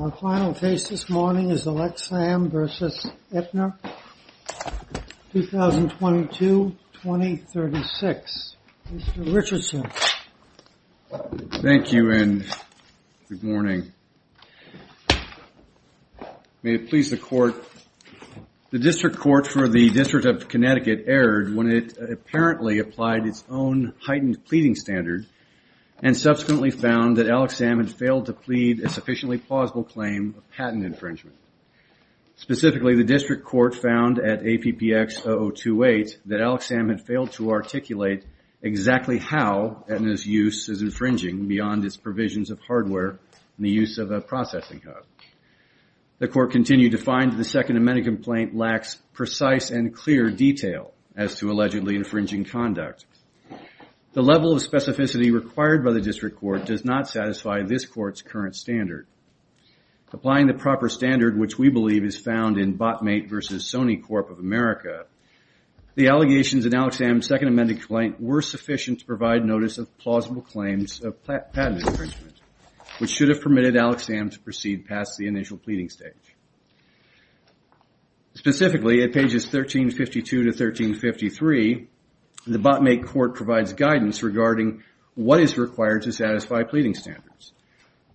Our final case this morning is Alexsam v. Aetna, 2022-2036. Mr. Richardson. Thank you and good morning. May it please the Court, the District Court for the District of Connecticut erred when it apparently applied its own heightened pleading standard and subsequently found that Alexsam had failed to plead a sufficiently plausible claim of patent infringement. Specifically, the District Court found at APPX-0028 that Alexsam had failed to articulate exactly how Aetna's use is infringing beyond its provisions of hardware and the use of a processing hub. The Court continued to find that the Second Amendment complaint lacks precise and clear detail as to allegedly infringing conduct. The level of specificity required by the District does not satisfy this Court's current standard. Applying the proper standard, which we believe is found in Botmate v. Sony Corp. of America, the allegations in Alexsam's Second Amendment complaint were sufficient to provide notice of plausible claims of patent infringement, which should have permitted Alexsam to proceed past the initial pleading stage. Specifically, at pages 1352-1353, the Botmate Court provides guidance regarding what is required to satisfy pleading standards.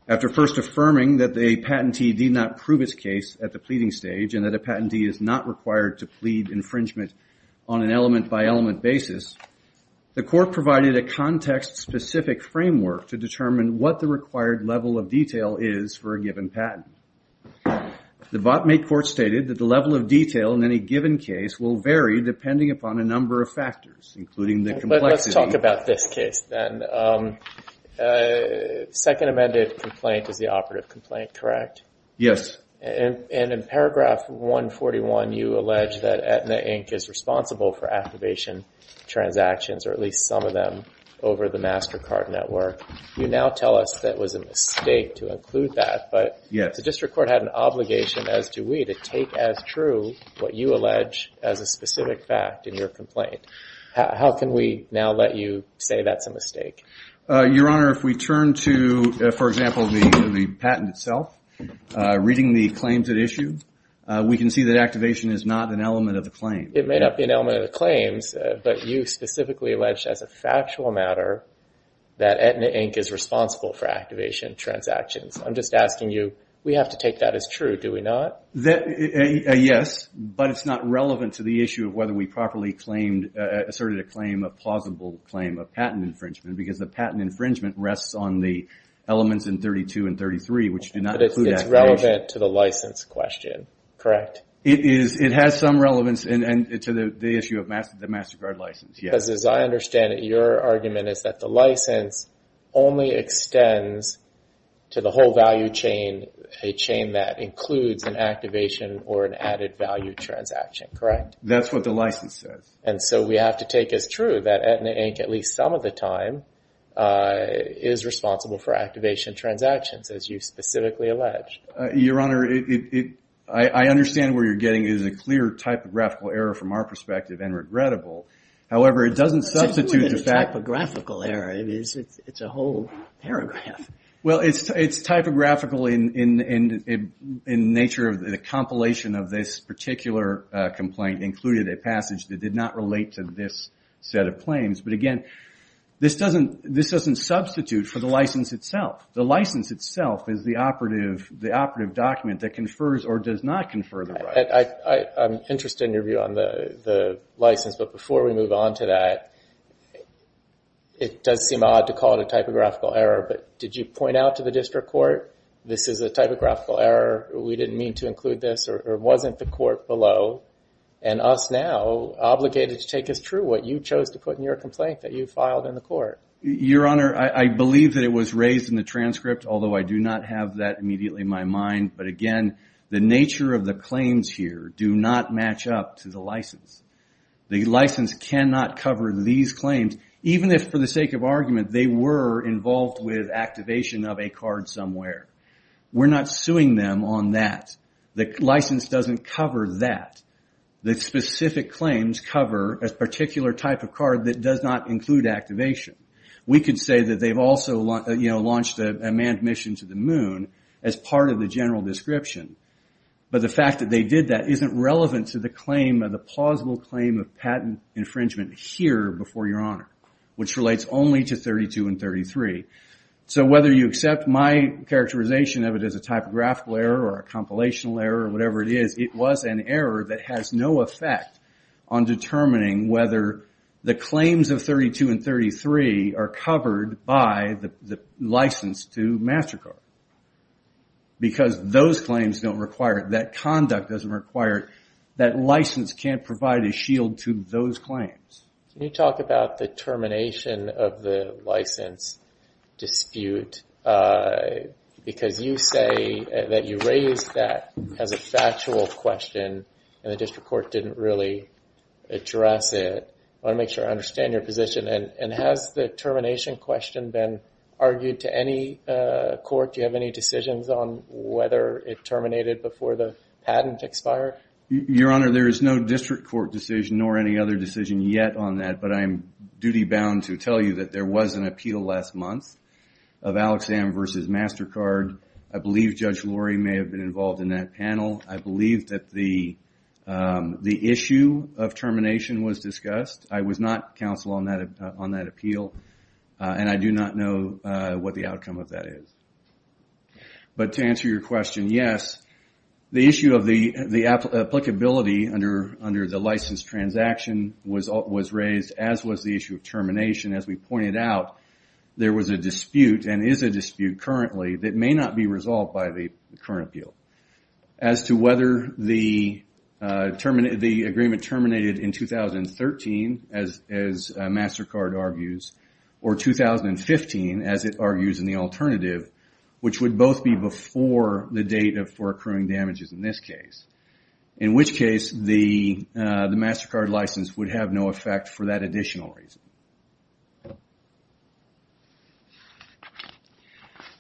After first affirming that a patentee did not prove its case at the pleading stage and that a patentee is not required to plead infringement on an element-by-element basis, the Court provided a context-specific framework to determine what the required level of detail is for a given patent. The Botmate Court stated that the level of detail in any given case will vary depending upon a case. Second Amendment complaint is the operative complaint, correct? Yes. And in paragraph 141, you allege that Aetna Inc. is responsible for activation transactions, or at least some of them, over the MasterCard network. You now tell us that was a mistake to include that, but the District Court had an obligation, as do we, to take as true what you allege as a specific fact in your complaint. How can we now let you say that's a mistake? Your Honor, if we turn to, for example, the patent itself, reading the claims at issue, we can see that activation is not an element of the claim. It may not be an element of the claims, but you specifically allege as a factual matter that Aetna Inc. is responsible for activation transactions. I'm just asking you, we have to take that as true, do we not? That, yes, but it's not relevant to the issue of whether we properly claimed, asserted a claim, a plausible claim of patent infringement, because the patent infringement rests on the elements in 32 and 33, which do not include activation. But it's relevant to the license question, correct? It is. It has some relevance to the issue of the MasterCard license, yes. Because as I understand it, your argument is that the license only extends to the whole chain, a chain that includes an activation or an added value transaction, correct? That's what the license says. And so we have to take as true that Aetna Inc., at least some of the time, is responsible for activation transactions, as you specifically allege. Your Honor, I understand where you're getting is a clear typographical error from our perspective, and regrettable. However, it doesn't substitute the fact... It's more than a typographical error. It's a whole paragraph. Well, it's typographical in nature of the compilation of this particular complaint, including a passage that did not relate to this set of claims. But again, this doesn't substitute for the license itself. The license itself is the operative document that confers or does not confer the right. I'm interested in your view on the license. But before we move on to that, it does seem odd to call it a typographical error. Did you point out to the district court, this is a typographical error, we didn't mean to include this, or wasn't the court below, and us now obligated to take as true what you chose to put in your complaint that you filed in the court? Your Honor, I believe that it was raised in the transcript, although I do not have that immediately in my mind. But again, the nature of the claims here do not match up to the license. The license cannot cover these claims, even if, for the sake of argument, they were involved with activation of a card somewhere. We're not suing them on that. The license doesn't cover that. The specific claims cover a particular type of card that does not include activation. We could say that they've also launched a manned mission to the moon, as part of the general description. But the fact that they did that isn't relevant to the plausible claim of patent infringement here before your Honor, which relates only to 32 and 33. Whether you accept my characterization of it as a typographical error, or a compilational error, or whatever it is, it was an error that has no effect on determining whether the claims of 32 and 33 are covered by the license to MasterCard. Because those claims don't require it. That conduct doesn't require it. That license can't provide a shield to those claims. Can you talk about the termination of the license dispute? Because you say that you raised that as a factual question, and the district court didn't really address it. I want to make sure I understand your position. And has the termination question been argued to any court? Do you have any decisions on whether it terminated before the patent expired? Your Honor, there is no district court decision, nor any other decision yet on that. But I am duty bound to tell you that there was an appeal last month, of Alex Am versus MasterCard. I believe Judge Lori may have been involved in that panel. I believe that the issue of termination was discussed. I was not counsel on that appeal. And I do not know what the outcome of that is. But to answer your question, yes. The issue of the applicability under the license transaction was raised, as was the issue of termination. As we pointed out, there was a dispute, and is a dispute currently, that may not be resolved by the current appeal. As to whether the agreement terminated in 2013, as MasterCard argues, or 2015, as it argues in the alternative, which would both be before the date for accruing damages in this case. In which case, the MasterCard license would have no effect for that additional reason.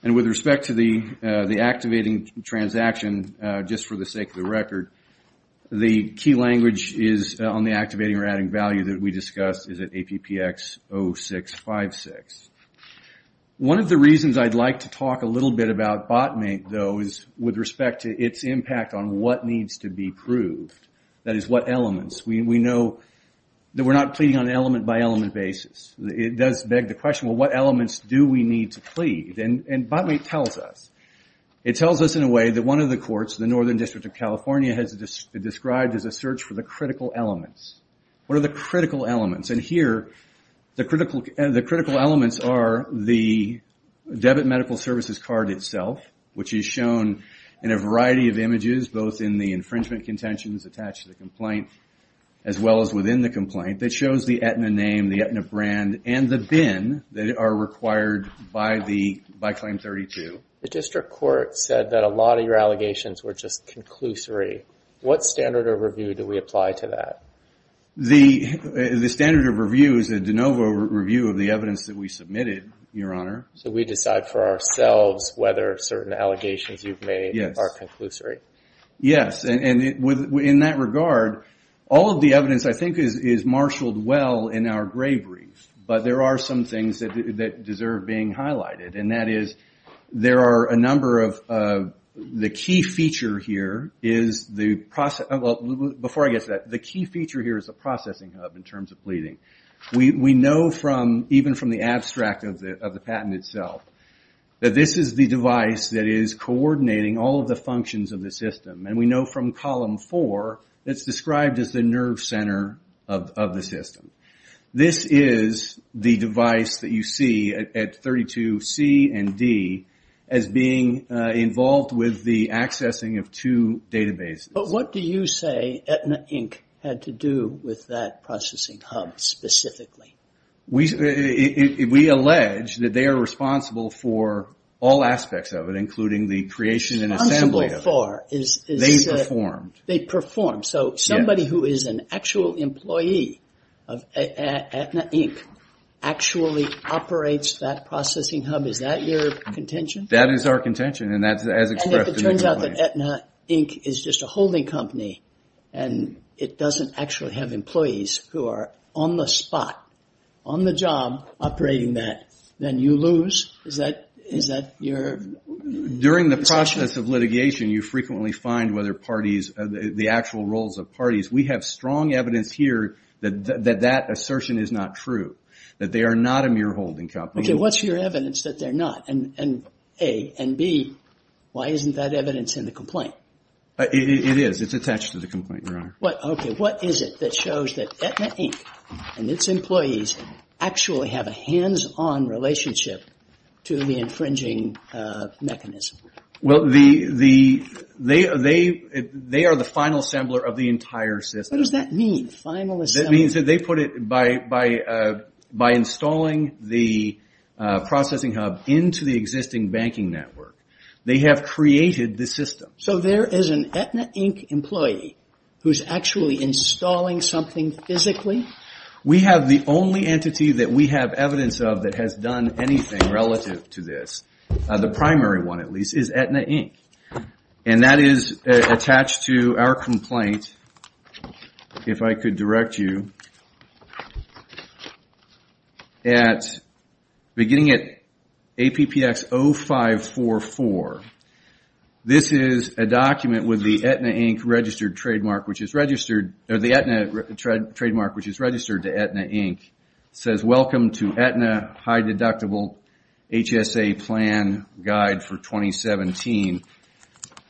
And with respect to the activating transaction, just for the sake of the record, the key language is on the activating or adding value that we discussed is at APPX 0656. One of the reasons I'd like to talk a little bit about BOTMATE, though, is with respect to its impact on what needs to be proved. That is, what elements. We know that we're not pleading on an element-by-element basis. It does beg the question, well, what elements do we need to plead? And BOTMATE tells us. It tells us in a way that one of the courts, the Northern District of California, has described as a search for the critical elements. What are the critical elements? And here, the critical elements are the debit medical services card itself, which is shown in a variety of images, both in the infringement contentions attached to the complaint, as well as within the complaint, that shows the Aetna name, the Aetna brand, and the BIN that are required by Claim 32. The district court said that a lot of your allegations were just conclusory. What standard of review do we apply to that? The standard of review is a de novo review of the evidence that we submitted, Your Honor. So we decide for ourselves whether certain allegations you've made are conclusory. Yes, and in that regard, all of the evidence, I think, is marshaled well in our gray brief. But there are some things that deserve being highlighted. And that is, there are a number of... The key feature here is the process... Before I get to that, the key feature here is the processing hub in terms of pleading. We know from, even from the abstract of the patent itself, that this is the device that is coordinating all of the functions of the system. And we know from column four, it's described as the nerve center of the system. This is the device that you see at 32C and D as being involved with the accessing of two databases. But what do you say Aetna, Inc. had to do with that processing hub specifically? We allege that they are responsible for all aspects of it, including the creation and assembly of it. Responsible for is... They performed. They performed. So somebody who is an actual employee of Aetna, Inc. actually operates that processing hub. Is that your contention? That is our contention. And that's as expressed in the complaint. Aetna, Inc. is just a holding company and it doesn't actually have employees who are on the spot, on the job, operating that. Then you lose? Is that your... During the process of litigation, you frequently find whether parties, the actual roles of parties. We have strong evidence here that that assertion is not true. That they are not a mere holding company. What's your evidence that they're not? A, and B, why isn't that evidence in the complaint? It is. It's attached to the complaint, Your Honor. Okay. What is it that shows that Aetna, Inc. and its employees actually have a hands-on relationship to the infringing mechanism? Well, they are the final assembler of the entire system. What does that mean? Final assembler? They put it by installing the processing hub into the existing banking network. They have created the system. So there is an Aetna, Inc. employee who's actually installing something physically? We have the only entity that we have evidence of that has done anything relative to this. The primary one, at least, is Aetna, Inc. And that is attached to our complaint. And if I could direct you, beginning at APPX 0544, this is a document with the Aetna, Inc. registered trademark, which is registered to Aetna, Inc. says, Welcome to Aetna High Deductible HSA Plan Guide for 2017.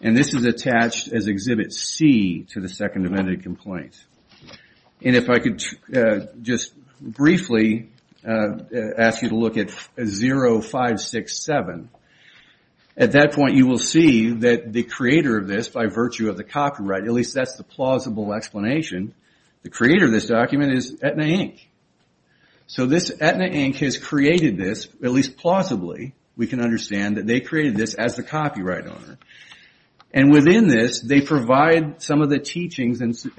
And this is attached as Exhibit C to the Second Amendment Complaint. And if I could just briefly ask you to look at 0567. At that point, you will see that the creator of this, by virtue of the copyright, at least that's the plausible explanation, the creator of this document is Aetna, Inc. So this Aetna, Inc. has created this, at least plausibly, we can understand that they created this as the copyright owner. And within this, they provide some of the teachings and some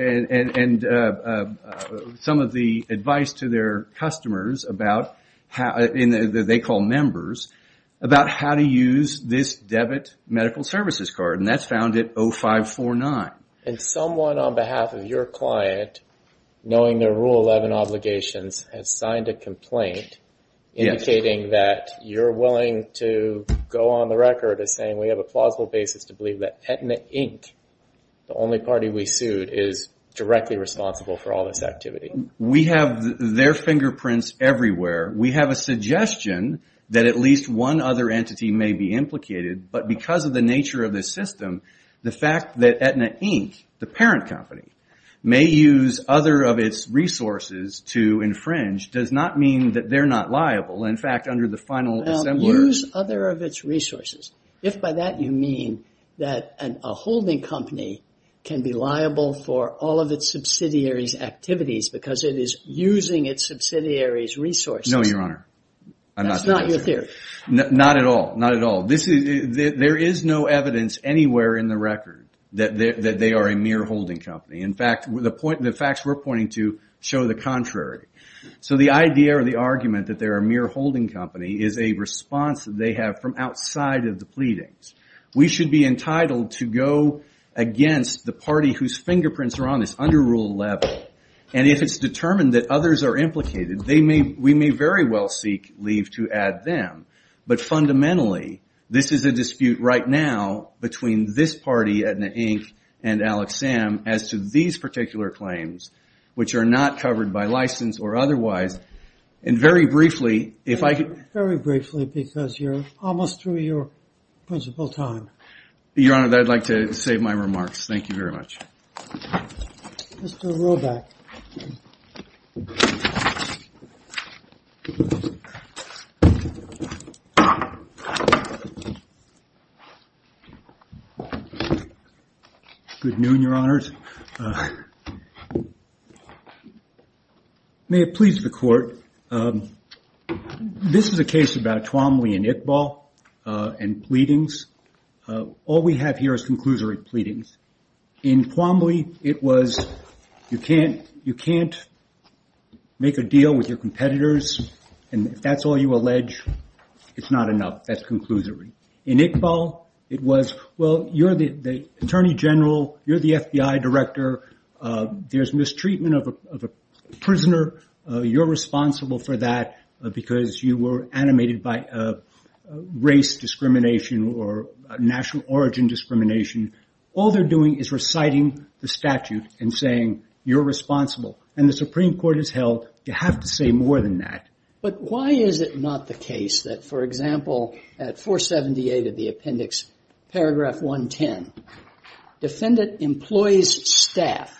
of the advice to their customers, that they call members, about how to use this debit medical services card. And that's found at 0549. And someone on behalf of your client, knowing their Rule 11 obligations, has signed a complaint indicating that you're willing to go on the record as saying we have a plausible basis to believe that Aetna, Inc., the only party we sued, is directly responsible for all this activity. We have their fingerprints everywhere. We have a suggestion that at least one other entity may be implicated. But because of the nature of this system, the fact that Aetna, Inc., the parent company, may use other of its resources to infringe, does not mean that they're not liable. In fact, under the final... Well, use other of its resources. If by that you mean that a holding company can be liable for all of its subsidiaries' activities because it is using its subsidiaries' resources... No, Your Honor. That's not your theory. Not at all. Not at all. There is no evidence anywhere in the record that they are a mere holding company. In fact, the facts we're pointing to show the contrary. So the idea or the argument that they're a mere holding company is a response that they have from outside of the pleadings. We should be entitled to go against the party whose fingerprints are on this under Rule 11. And if it's determined that others are implicated, we may very well seek leave to add them. But fundamentally, this is a dispute right now between this party, Aetna, Inc., and Alexam, as to these particular claims, which are not covered by license or otherwise. And very briefly, if I could... Very briefly, because you're almost through your principal time. Your Honor, I'd like to save my remarks. Thank you very much. Mr. Roback. Good noon, Your Honors. It may have pleased the court. This is a case about Twombly and Iqbal and pleadings. All we have here is conclusory pleadings. In Twombly, it was, you can't make a deal with your competitors. And if that's all you allege, it's not enough. That's conclusory. In Iqbal, it was, well, you're the attorney general. You're the FBI director. There's mistreatment of a prisoner. You're responsible for that because you were animated by race discrimination or national origin discrimination. All they're doing is reciting the statute and saying, you're responsible. And the Supreme Court has held, you have to say more than that. But why is it not the case that, for example, at 478 of the appendix, paragraph 110, defendant employs staff,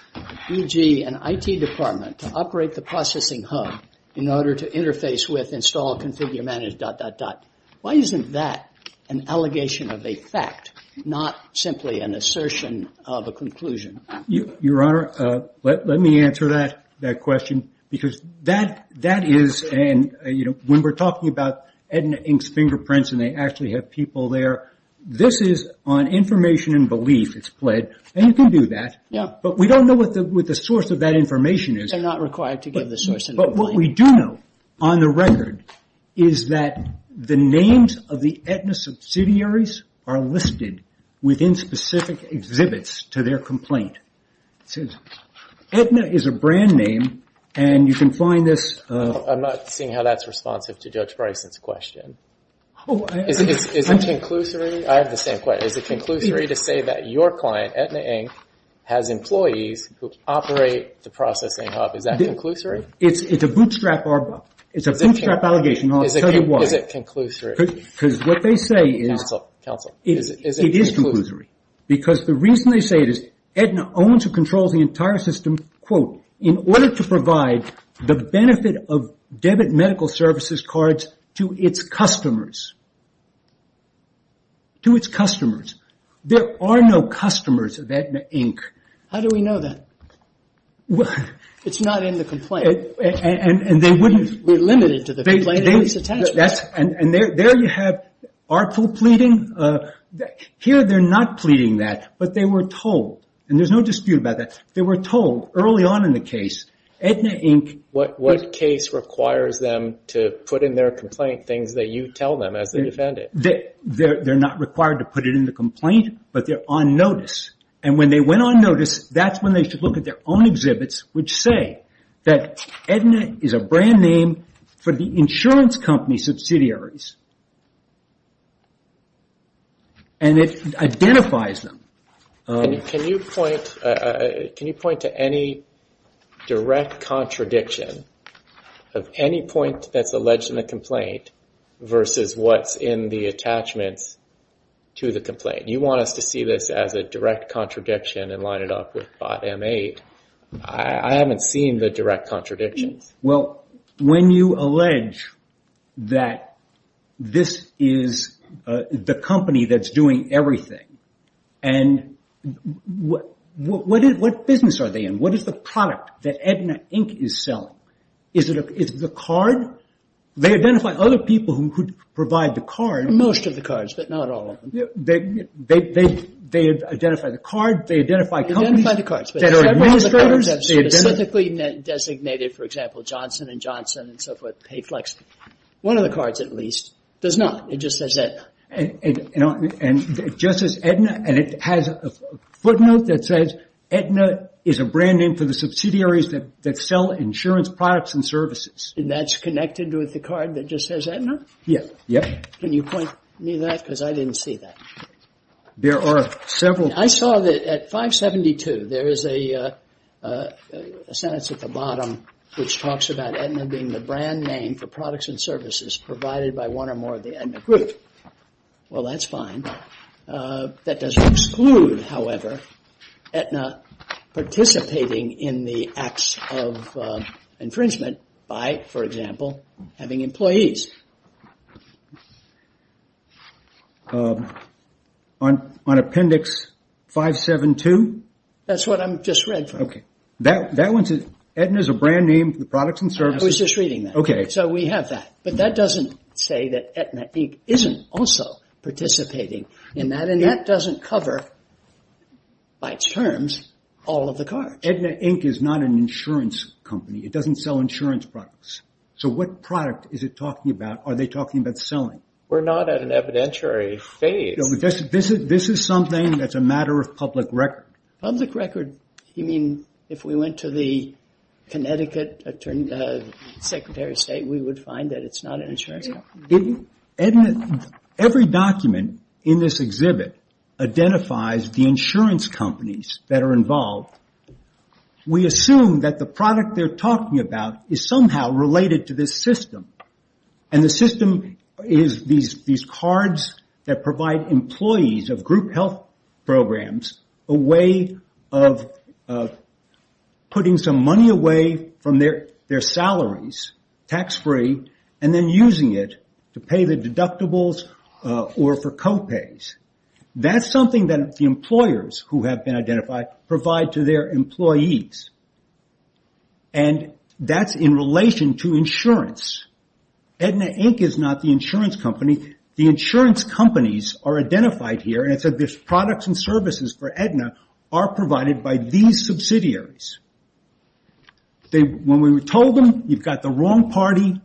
e.g. an IT department, to operate the processing hub in order to interface with, install, configure, manage, dot, dot, dot. Why isn't that an allegation of a fact, not simply an assertion of a conclusion? Your Honor, let me answer that question because that is, when we're talking about Edna Inc.'s fingerprints and they actually have people there, this is on information and belief, it's pled. And you can do that. But we don't know what the source of that information is. They're not required to give the source. But what we do know, on the record, is that the names of the Edna subsidiaries are listed within specific exhibits to their complaint. Edna is a brand name and you can find this. I'm not seeing how that's responsive to Judge Bryson's question. Is it conclusory? I have the same question. Is it conclusory to say that your client, Edna Inc., has employees who operate the processing hub? Is that conclusory? It's a bootstrap allegation and I'll tell you why. Is it conclusory? Because what they say is... Counsel, counsel, is it conclusory? It is conclusory. Because the reason they say it is, Edna owns and controls the entire system, quote, in order to provide the benefit of debit medical services cards to its customers. To its customers. There are no customers of Edna Inc. How do we know that? It's not in the complaint. And they wouldn't... We're limited to the plaintiff's attachment. And there you have artful pleading. Here they're not pleading that, but they were told, and there's no dispute about that, they were told early on in the case, Edna Inc. What case requires them to put in their complaint things that you tell them as the defendant? They're not required to put it in the complaint, but they're on notice. And when they went on notice, that's when they should look at their own exhibits, which say that Edna is a brand name for the insurance company subsidiaries. And it identifies them. Can you point to any direct contradiction of any point that's alleged in the complaint versus what's in the attachments to the complaint? You want us to see this as a direct contradiction and line it up with bot M8. I haven't seen the direct contradictions. Well, when you allege that this is the company that's doing everything and what business are they in? What is the product that Edna Inc. is selling? Is it the card? They identify other people who provide the card. Most of the cards, but not all of them. They identify the card. They identify companies that are administrators. They have specifically designated, for example, Johnson & Johnson and so forth, Payflex. One of the cards, at least, does not. It just says Edna. And it just says Edna. And it has a footnote that says Edna is a brand name for the subsidiaries that sell insurance products and services. That's connected with the card that just says Edna? Yes. Yep. Can you point me that? Because I didn't see that. There are several. I saw that at 572, there is a sentence at the bottom which talks about Edna being the brand name for products and services provided by one or more of the Edna group. Well, that's fine. That doesn't exclude, however, Edna participating in the acts of infringement by, for example, having employees. On appendix 572? That's what I just read. Edna is a brand name for the products and services. I was just reading that. OK. So we have that. But that doesn't say that Edna, Inc. isn't also participating in that. And that doesn't cover, by terms, all of the cards. Edna, Inc. is not an insurance company. It doesn't sell insurance products. So what product is it talking about? Are they talking about selling? We're not at an evidentiary phase. This is something that's a matter of public record. Public record, you mean if we went to the Connecticut Attorney, Secretary of State, we would find that it's not an insurance company. Edna, every document in this exhibit identifies the insurance companies that are involved. We assume that the product they're talking about is somehow related to this system. And the system is these cards that provide employees of group health programs a way of putting some money away from their salaries, tax-free, and then using it to pay the deductibles or for co-pays. That's something that the employers who have been identified provide to their employees. And that's in relation to insurance. Edna, Inc. is not the insurance company. The insurance companies are identified here. And so there's products and services for Edna are provided by these subsidiaries. When we told them, you've got the wrong party,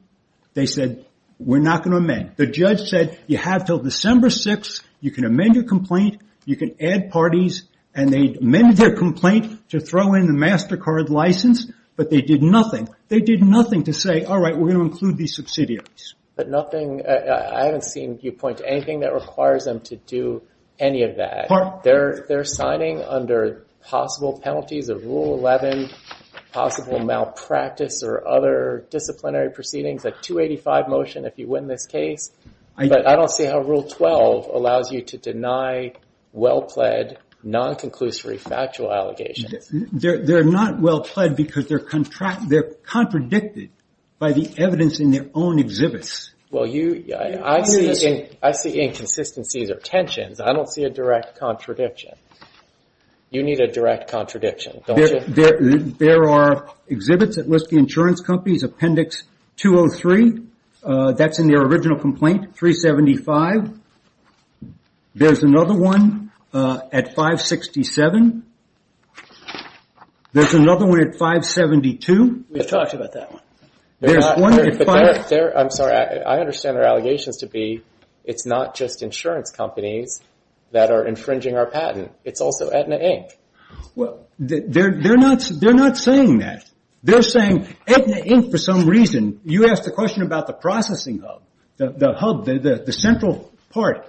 they said, we're not going to amend. The judge said, you have till December 6. You can amend your complaint. You can add parties. And they amended their complaint to throw in the MasterCard license. But they did nothing. They did nothing to say, all right, we're going to include these subsidiaries. But nothing, I haven't seen you point to anything that requires them to do any of that. They're signing under possible penalties of Rule 11, possible malpractice or other disciplinary proceedings, a 285 motion if you win this case. But I don't see how Rule 12 allows you to deny well-pled non-conclusory factual allegations. They're not well-pled because they're contradicted by the evidence in their own exhibits. Well, I see inconsistencies or tensions. I don't see a direct contradiction. You need a direct contradiction, don't you? There are exhibits that list the insurance companies. Appendix 203, that's in their original complaint, 375. There's another one at 567. There's another one at 572. We've talked about that one. I'm sorry. I understand their allegations to be, it's not just insurance companies that are infringing our patent. It's also Aetna, Inc. Well, they're not saying that. They're saying Aetna, Inc. for some reason, you asked the question about the processing hub, the hub, the central part.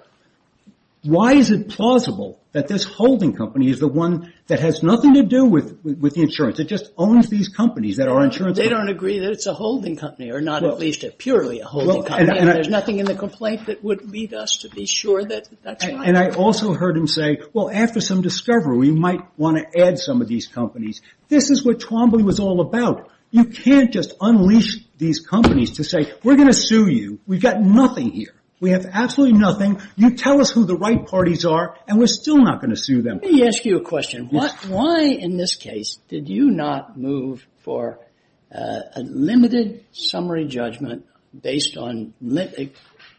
Why is it plausible that this holding company is the one that has nothing to do with the insurance? It just owns these companies that are insurance companies. They don't agree that it's a holding company or not at least purely a holding company. There's nothing in the complaint that would lead us to be sure that that's right. And I also heard him say, well, after some discovery, we might want to add some of these companies. This is what Twombly was all about. You can't just unleash these companies to say, we're going to sue you. We've got nothing here. We have absolutely nothing. You tell us who the right parties are, and we're still not going to sue them. Let me ask you a question. Why in this case did you not move for a limited summary judgment based on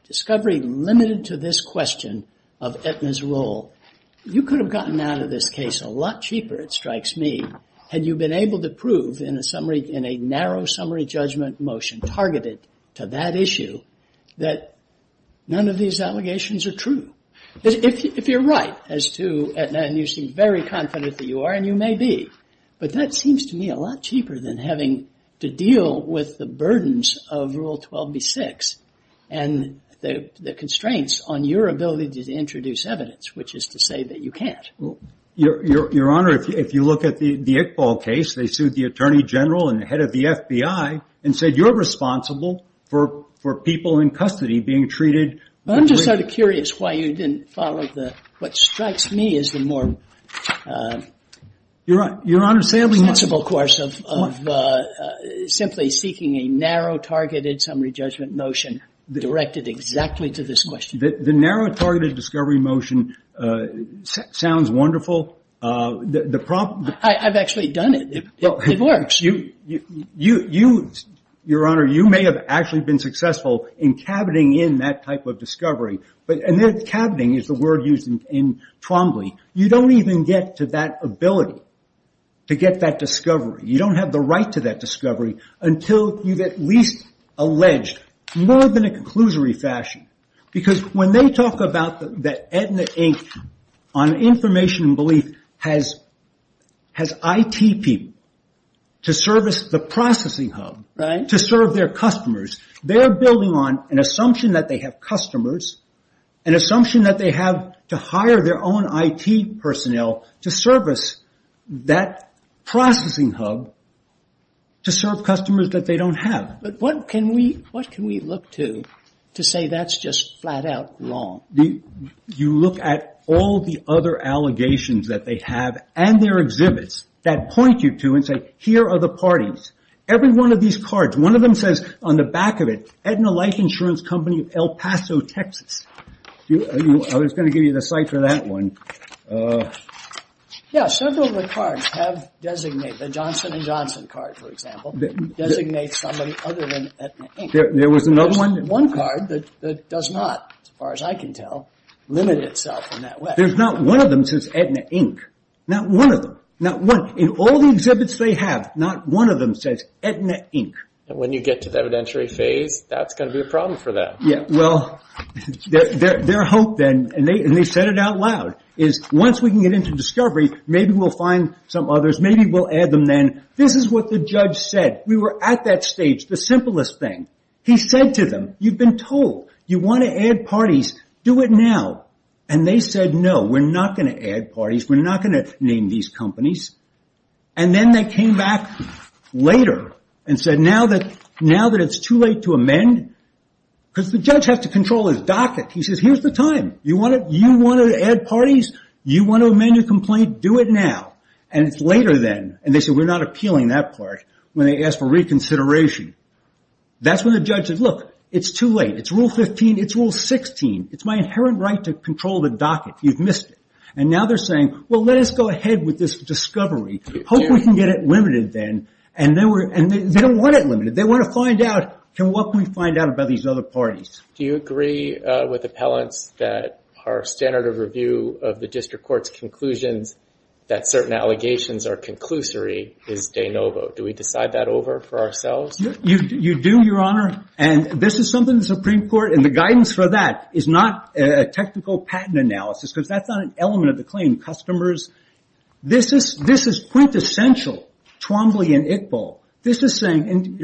discovery limited to this question of Aetna's role? You could have gotten out of this case a lot cheaper, it strikes me, had you been able to prove in a summary, in a narrow summary judgment motion targeted to that issue, that none of these allegations are true. If you're right as to Aetna, and you seem very confident that you are, and you may be, but that seems to me a lot cheaper than having to deal with the burdens of Rule 12b-6 and the constraints on your ability to introduce evidence, which is to say that you can't. Your Honor, if you look at the Iqbal case, they sued the Attorney General and the head of the FBI and said you're responsible for people in custody being treated. I'm just sort of curious why you didn't follow the what strikes me as the more sensible course of simply seeking a narrow targeted summary judgment notion directed exactly to this question. The narrow targeted discovery motion sounds wonderful. I've actually done it. It works. Your Honor, you may have actually been successful in cabining in that type of discovery. And cabining is the word used in Trombley. You don't even get to that ability to get that discovery. You don't have the right to that discovery until you've at least alleged more than a conclusory fashion. Because when they talk about that Aetna Inc. on information and belief has IT people to service the processing hub, to serve their customers, they're building on an assumption that they have customers, an assumption that they have to hire their own IT personnel to service that processing hub to serve customers that they don't have. But what can we look to to say that's just flat out wrong? You look at all the other allegations that they have and their exhibits that point you to and say, here are the parties. Every one of these cards, one of them says on the back of it, Aetna Life Insurance Company of El Paso, Texas. I was going to give you the site for that one. Yeah, several of the cards have designated, the Johnson and Johnson card, for example, designates somebody other than Aetna Inc. There was another one? One card that does not, as far as I can tell, limit itself in that way. There's not one of them says Aetna Inc. Not one of them. Not one. In all the exhibits they have, not one of them says Aetna Inc. When you get to the evidentiary phase, that's going to be a problem for them. Yeah, well, their hope then, and they said it out loud, is once we can get into discovery, maybe we'll find some others. Maybe we'll add them then. This is what the judge said. We were at that stage, the simplest thing. He said to them, you've been told, you want to add parties, do it now. They said, no, we're not going to add parties. We're not going to name these companies. Then they came back later and said, now that it's too late to amend, because the judge has to control his docket. He says, here's the time. You want to add parties? You want to amend your complaint? Do it now. It's later then. They said, we're not appealing that part. When they asked for reconsideration, that's when the judge said, look, it's too late. It's Rule 15. It's Rule 16. It's my inherent right to control the docket. You've missed it. Now they're saying, well, let us go ahead with this discovery. Hope we can get it limited then. They don't want it limited. They want to find out, what can we find out about these other parties? Do you agree with appellants that our standard of review of the district court's conclusions, that certain allegations are conclusory, is de novo? Do we decide that over for ourselves? You do, Your Honor. And this is something the Supreme Court, and the guidance for that, is not a technical patent analysis, because that's not an element of the claim. Customers, this is quintessential Twombly and Iqbal. This is saying,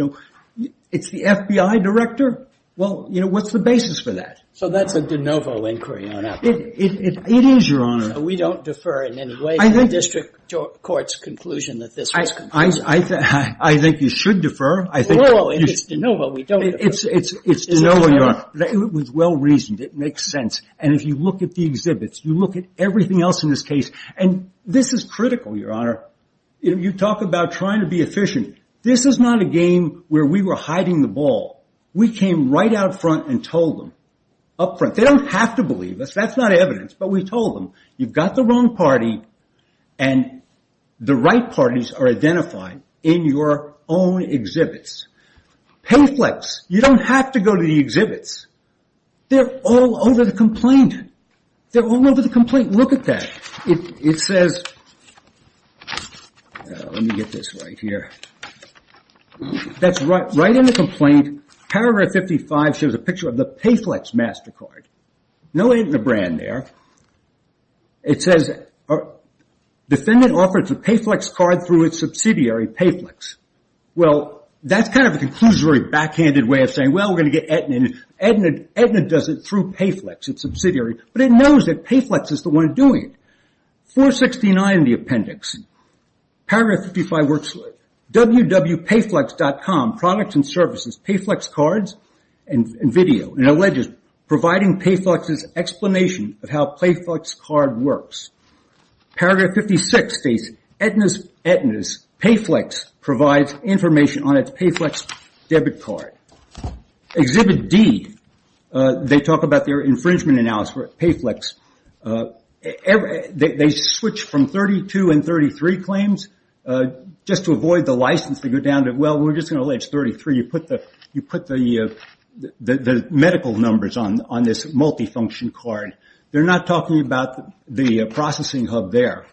it's the FBI director? Well, what's the basis for that? So that's a de novo inquiry on appellants. It is, Your Honor. We don't defer in any way to the district court's conclusion that this was conclusive. I think you should defer. Well, it's de novo. We don't defer. It's de novo, Your Honor. It was well-reasoned. It makes sense. And if you look at the exhibits, you look at everything else in this case. And this is critical, Your Honor. You talk about trying to be efficient. This is not a game where we were hiding the ball. We came right out front and told them. Up front. They don't have to believe us. That's not evidence. But we told them, you've got the wrong party and the right parties are identified in your own exhibits. Payflex. You don't have to go to the exhibits. They're all over the complaint. They're all over the complaint. Look at that. It says, let me get this right here. That's right in the complaint. Paragraph 55 shows a picture of the Payflex MasterCard. No Aetna brand there. It says, defendant offers a Payflex card through its subsidiary, Payflex. Well, that's kind of a conclusory backhanded way of saying, well, we're going to get Aetna. Aetna does it through Payflex, its subsidiary. But it knows that Payflex is the one doing it. 469 in the appendix. Paragraph 55 works for it. www.payflex.com. Products and services. Payflex cards and video. It alleges providing Payflex's explanation of how Payflex card works. Paragraph 56 states, Aetna's Payflex provides information on its Payflex debit card. Exhibit D, they talk about their infringement analysis for Payflex. They switch from 32 and 33 claims, just to avoid the license to go down to, well, we're just going to allege 33. You put the medical numbers on this multifunction card. They're not talking about the processing hub there.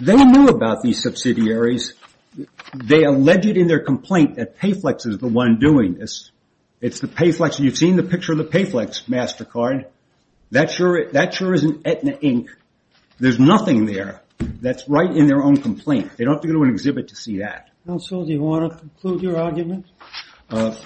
They knew about these subsidiaries. They alleged in their complaint that Payflex is the one doing this. It's the Payflex. You've seen the picture of the Payflex MasterCard. That sure isn't Aetna, Inc. There's nothing there that's right in their own complaint. They don't have to go to an exhibit to see that. Counsel, do you want to conclude your argument? The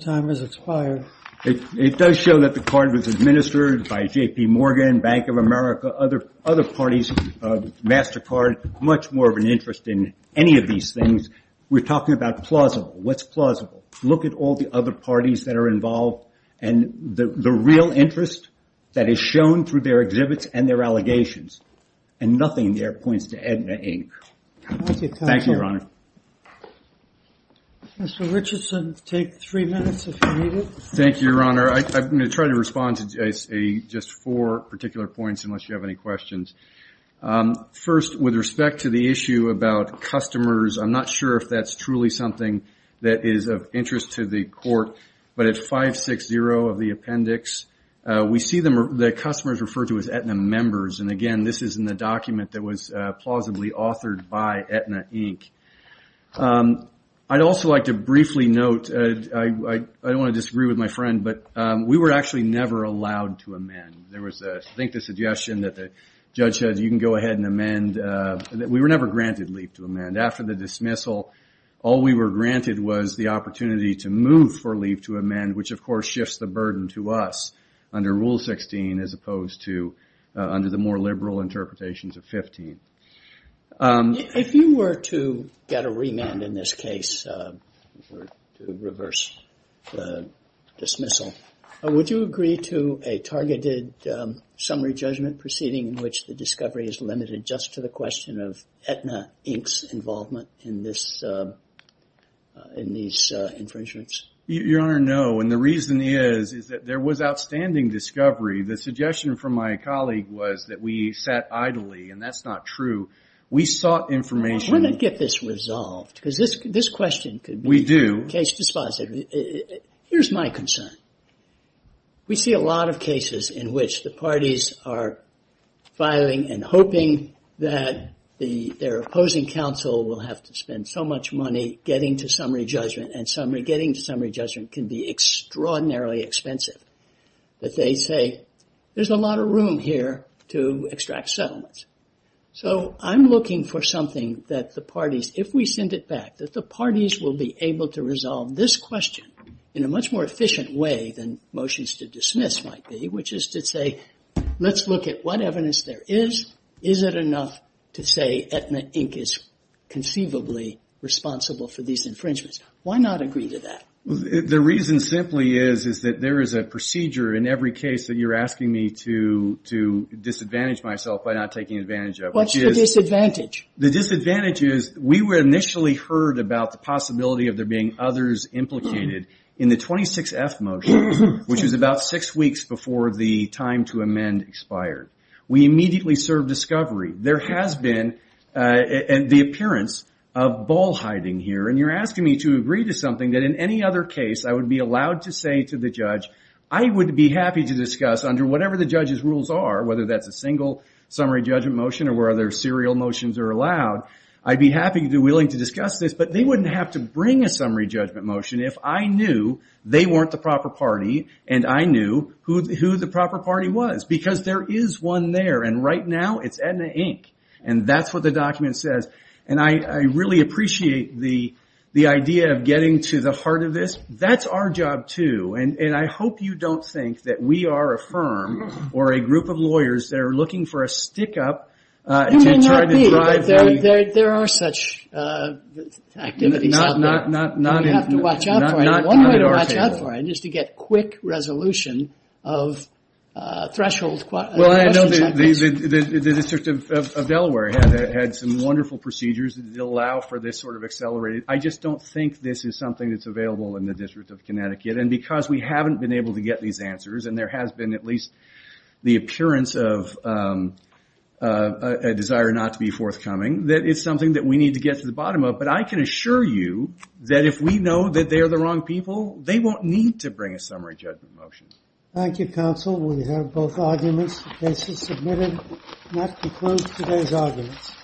time has expired. It does show that the card was administered by JP Morgan, Bank of America, other parties. MasterCard, much more of an interest in any of these things. We're talking about plausible. What's plausible? Look at all the other parties that are involved and the real interest that is shown through their exhibits and their allegations. And nothing there points to Aetna, Inc. Thank you, Your Honor. Mr. Richardson, take three minutes if you need it. Thank you, Your Honor. I'm going to try to respond to just four particular points unless you have any questions. First, with respect to the issue about customers, I'm not sure if that's truly something that is of interest to the court. But at 560 of the appendix, we see the customers referred to as Aetna members. And again, this is in the document that was plausibly authored by Aetna, Inc. I'd also like to briefly note, I don't want to disagree with my friend, but we were actually never allowed to amend. There was, I think, the suggestion that the judge said, you can go ahead and amend. We were never granted leave to amend. After the dismissal, all we were granted was the opportunity to move for leave to amend, which, of course, shifts the burden to us under Rule 16 as opposed to under the more liberal interpretations of 15. If you were to get a remand in this case, reverse the dismissal, would you agree to a targeted summary judgment proceeding in which the discovery is limited just to the question of Aetna, Inc.'s involvement in these infringements? Your Honor, no. And the reason is, is that there was outstanding discovery. The suggestion from my colleague was that we sat idly, and that's not true. We sought information- I want to get this resolved, because this question could be- We do. Case dispositive. Here's my concern. We see a lot of cases in which the parties are filing and hoping that their opposing counsel will have to spend so much money getting to summary judgment, and getting to summary judgment can be extraordinarily expensive, that they say, there's a lot of room here to extract settlements. So I'm looking for something that the parties, if we send it back, that the parties will be able to resolve this question in a much more efficient way than motions to dismiss might be, which is to say, let's look at what evidence there is. Is it enough to say Aetna, Inc. is conceivably responsible for these infringements? Why not agree to that? The reason simply is, is that there is a procedure in every case that you're asking me to disadvantage myself by not taking advantage of. What's the disadvantage? The disadvantage is, we were initially heard about the possibility of there being others implicated in the 26F motion, which was about six weeks before the time to amend expired. We immediately served discovery. There has been the appearance of ball hiding here, and you're asking me to agree to something that in any other case, I would be allowed to say to the judge, I would be happy to discuss under whatever the judge's rules are, whether that's a single summary judgment motion or where other serial motions are allowed, I'd be happy to be willing to discuss this, but they wouldn't have to bring a summary judgment motion if I knew they weren't the proper party and I knew who the proper party was, because there is one there, and right now it's Aetna, Inc., and that's what the document says, and I really appreciate the idea of getting to the heart of this. That's our job, too, and I hope you don't think that we are a firm or a group of lawyers that are looking for a stick-up to try to drive a... It may not be, but there are such activities out there. Not at our table. We have to watch out for it, and one way to watch out for it is to get quick resolution of threshold questions. Well, I know the District of Delaware had some wonderful procedures that allow for this sort of accelerated. I just don't think this is something that's available in the District of Connecticut, and because we haven't been able to get these answers and there has been at least the appearance of a desire not to be forthcoming, that is something that we need to get to the bottom of, but I can assure you that if we know that they are the wrong people, they won't need to bring a summary judgment motion. Thank you, counsel. We have both arguments. The case is submitted. And that concludes today's arguments.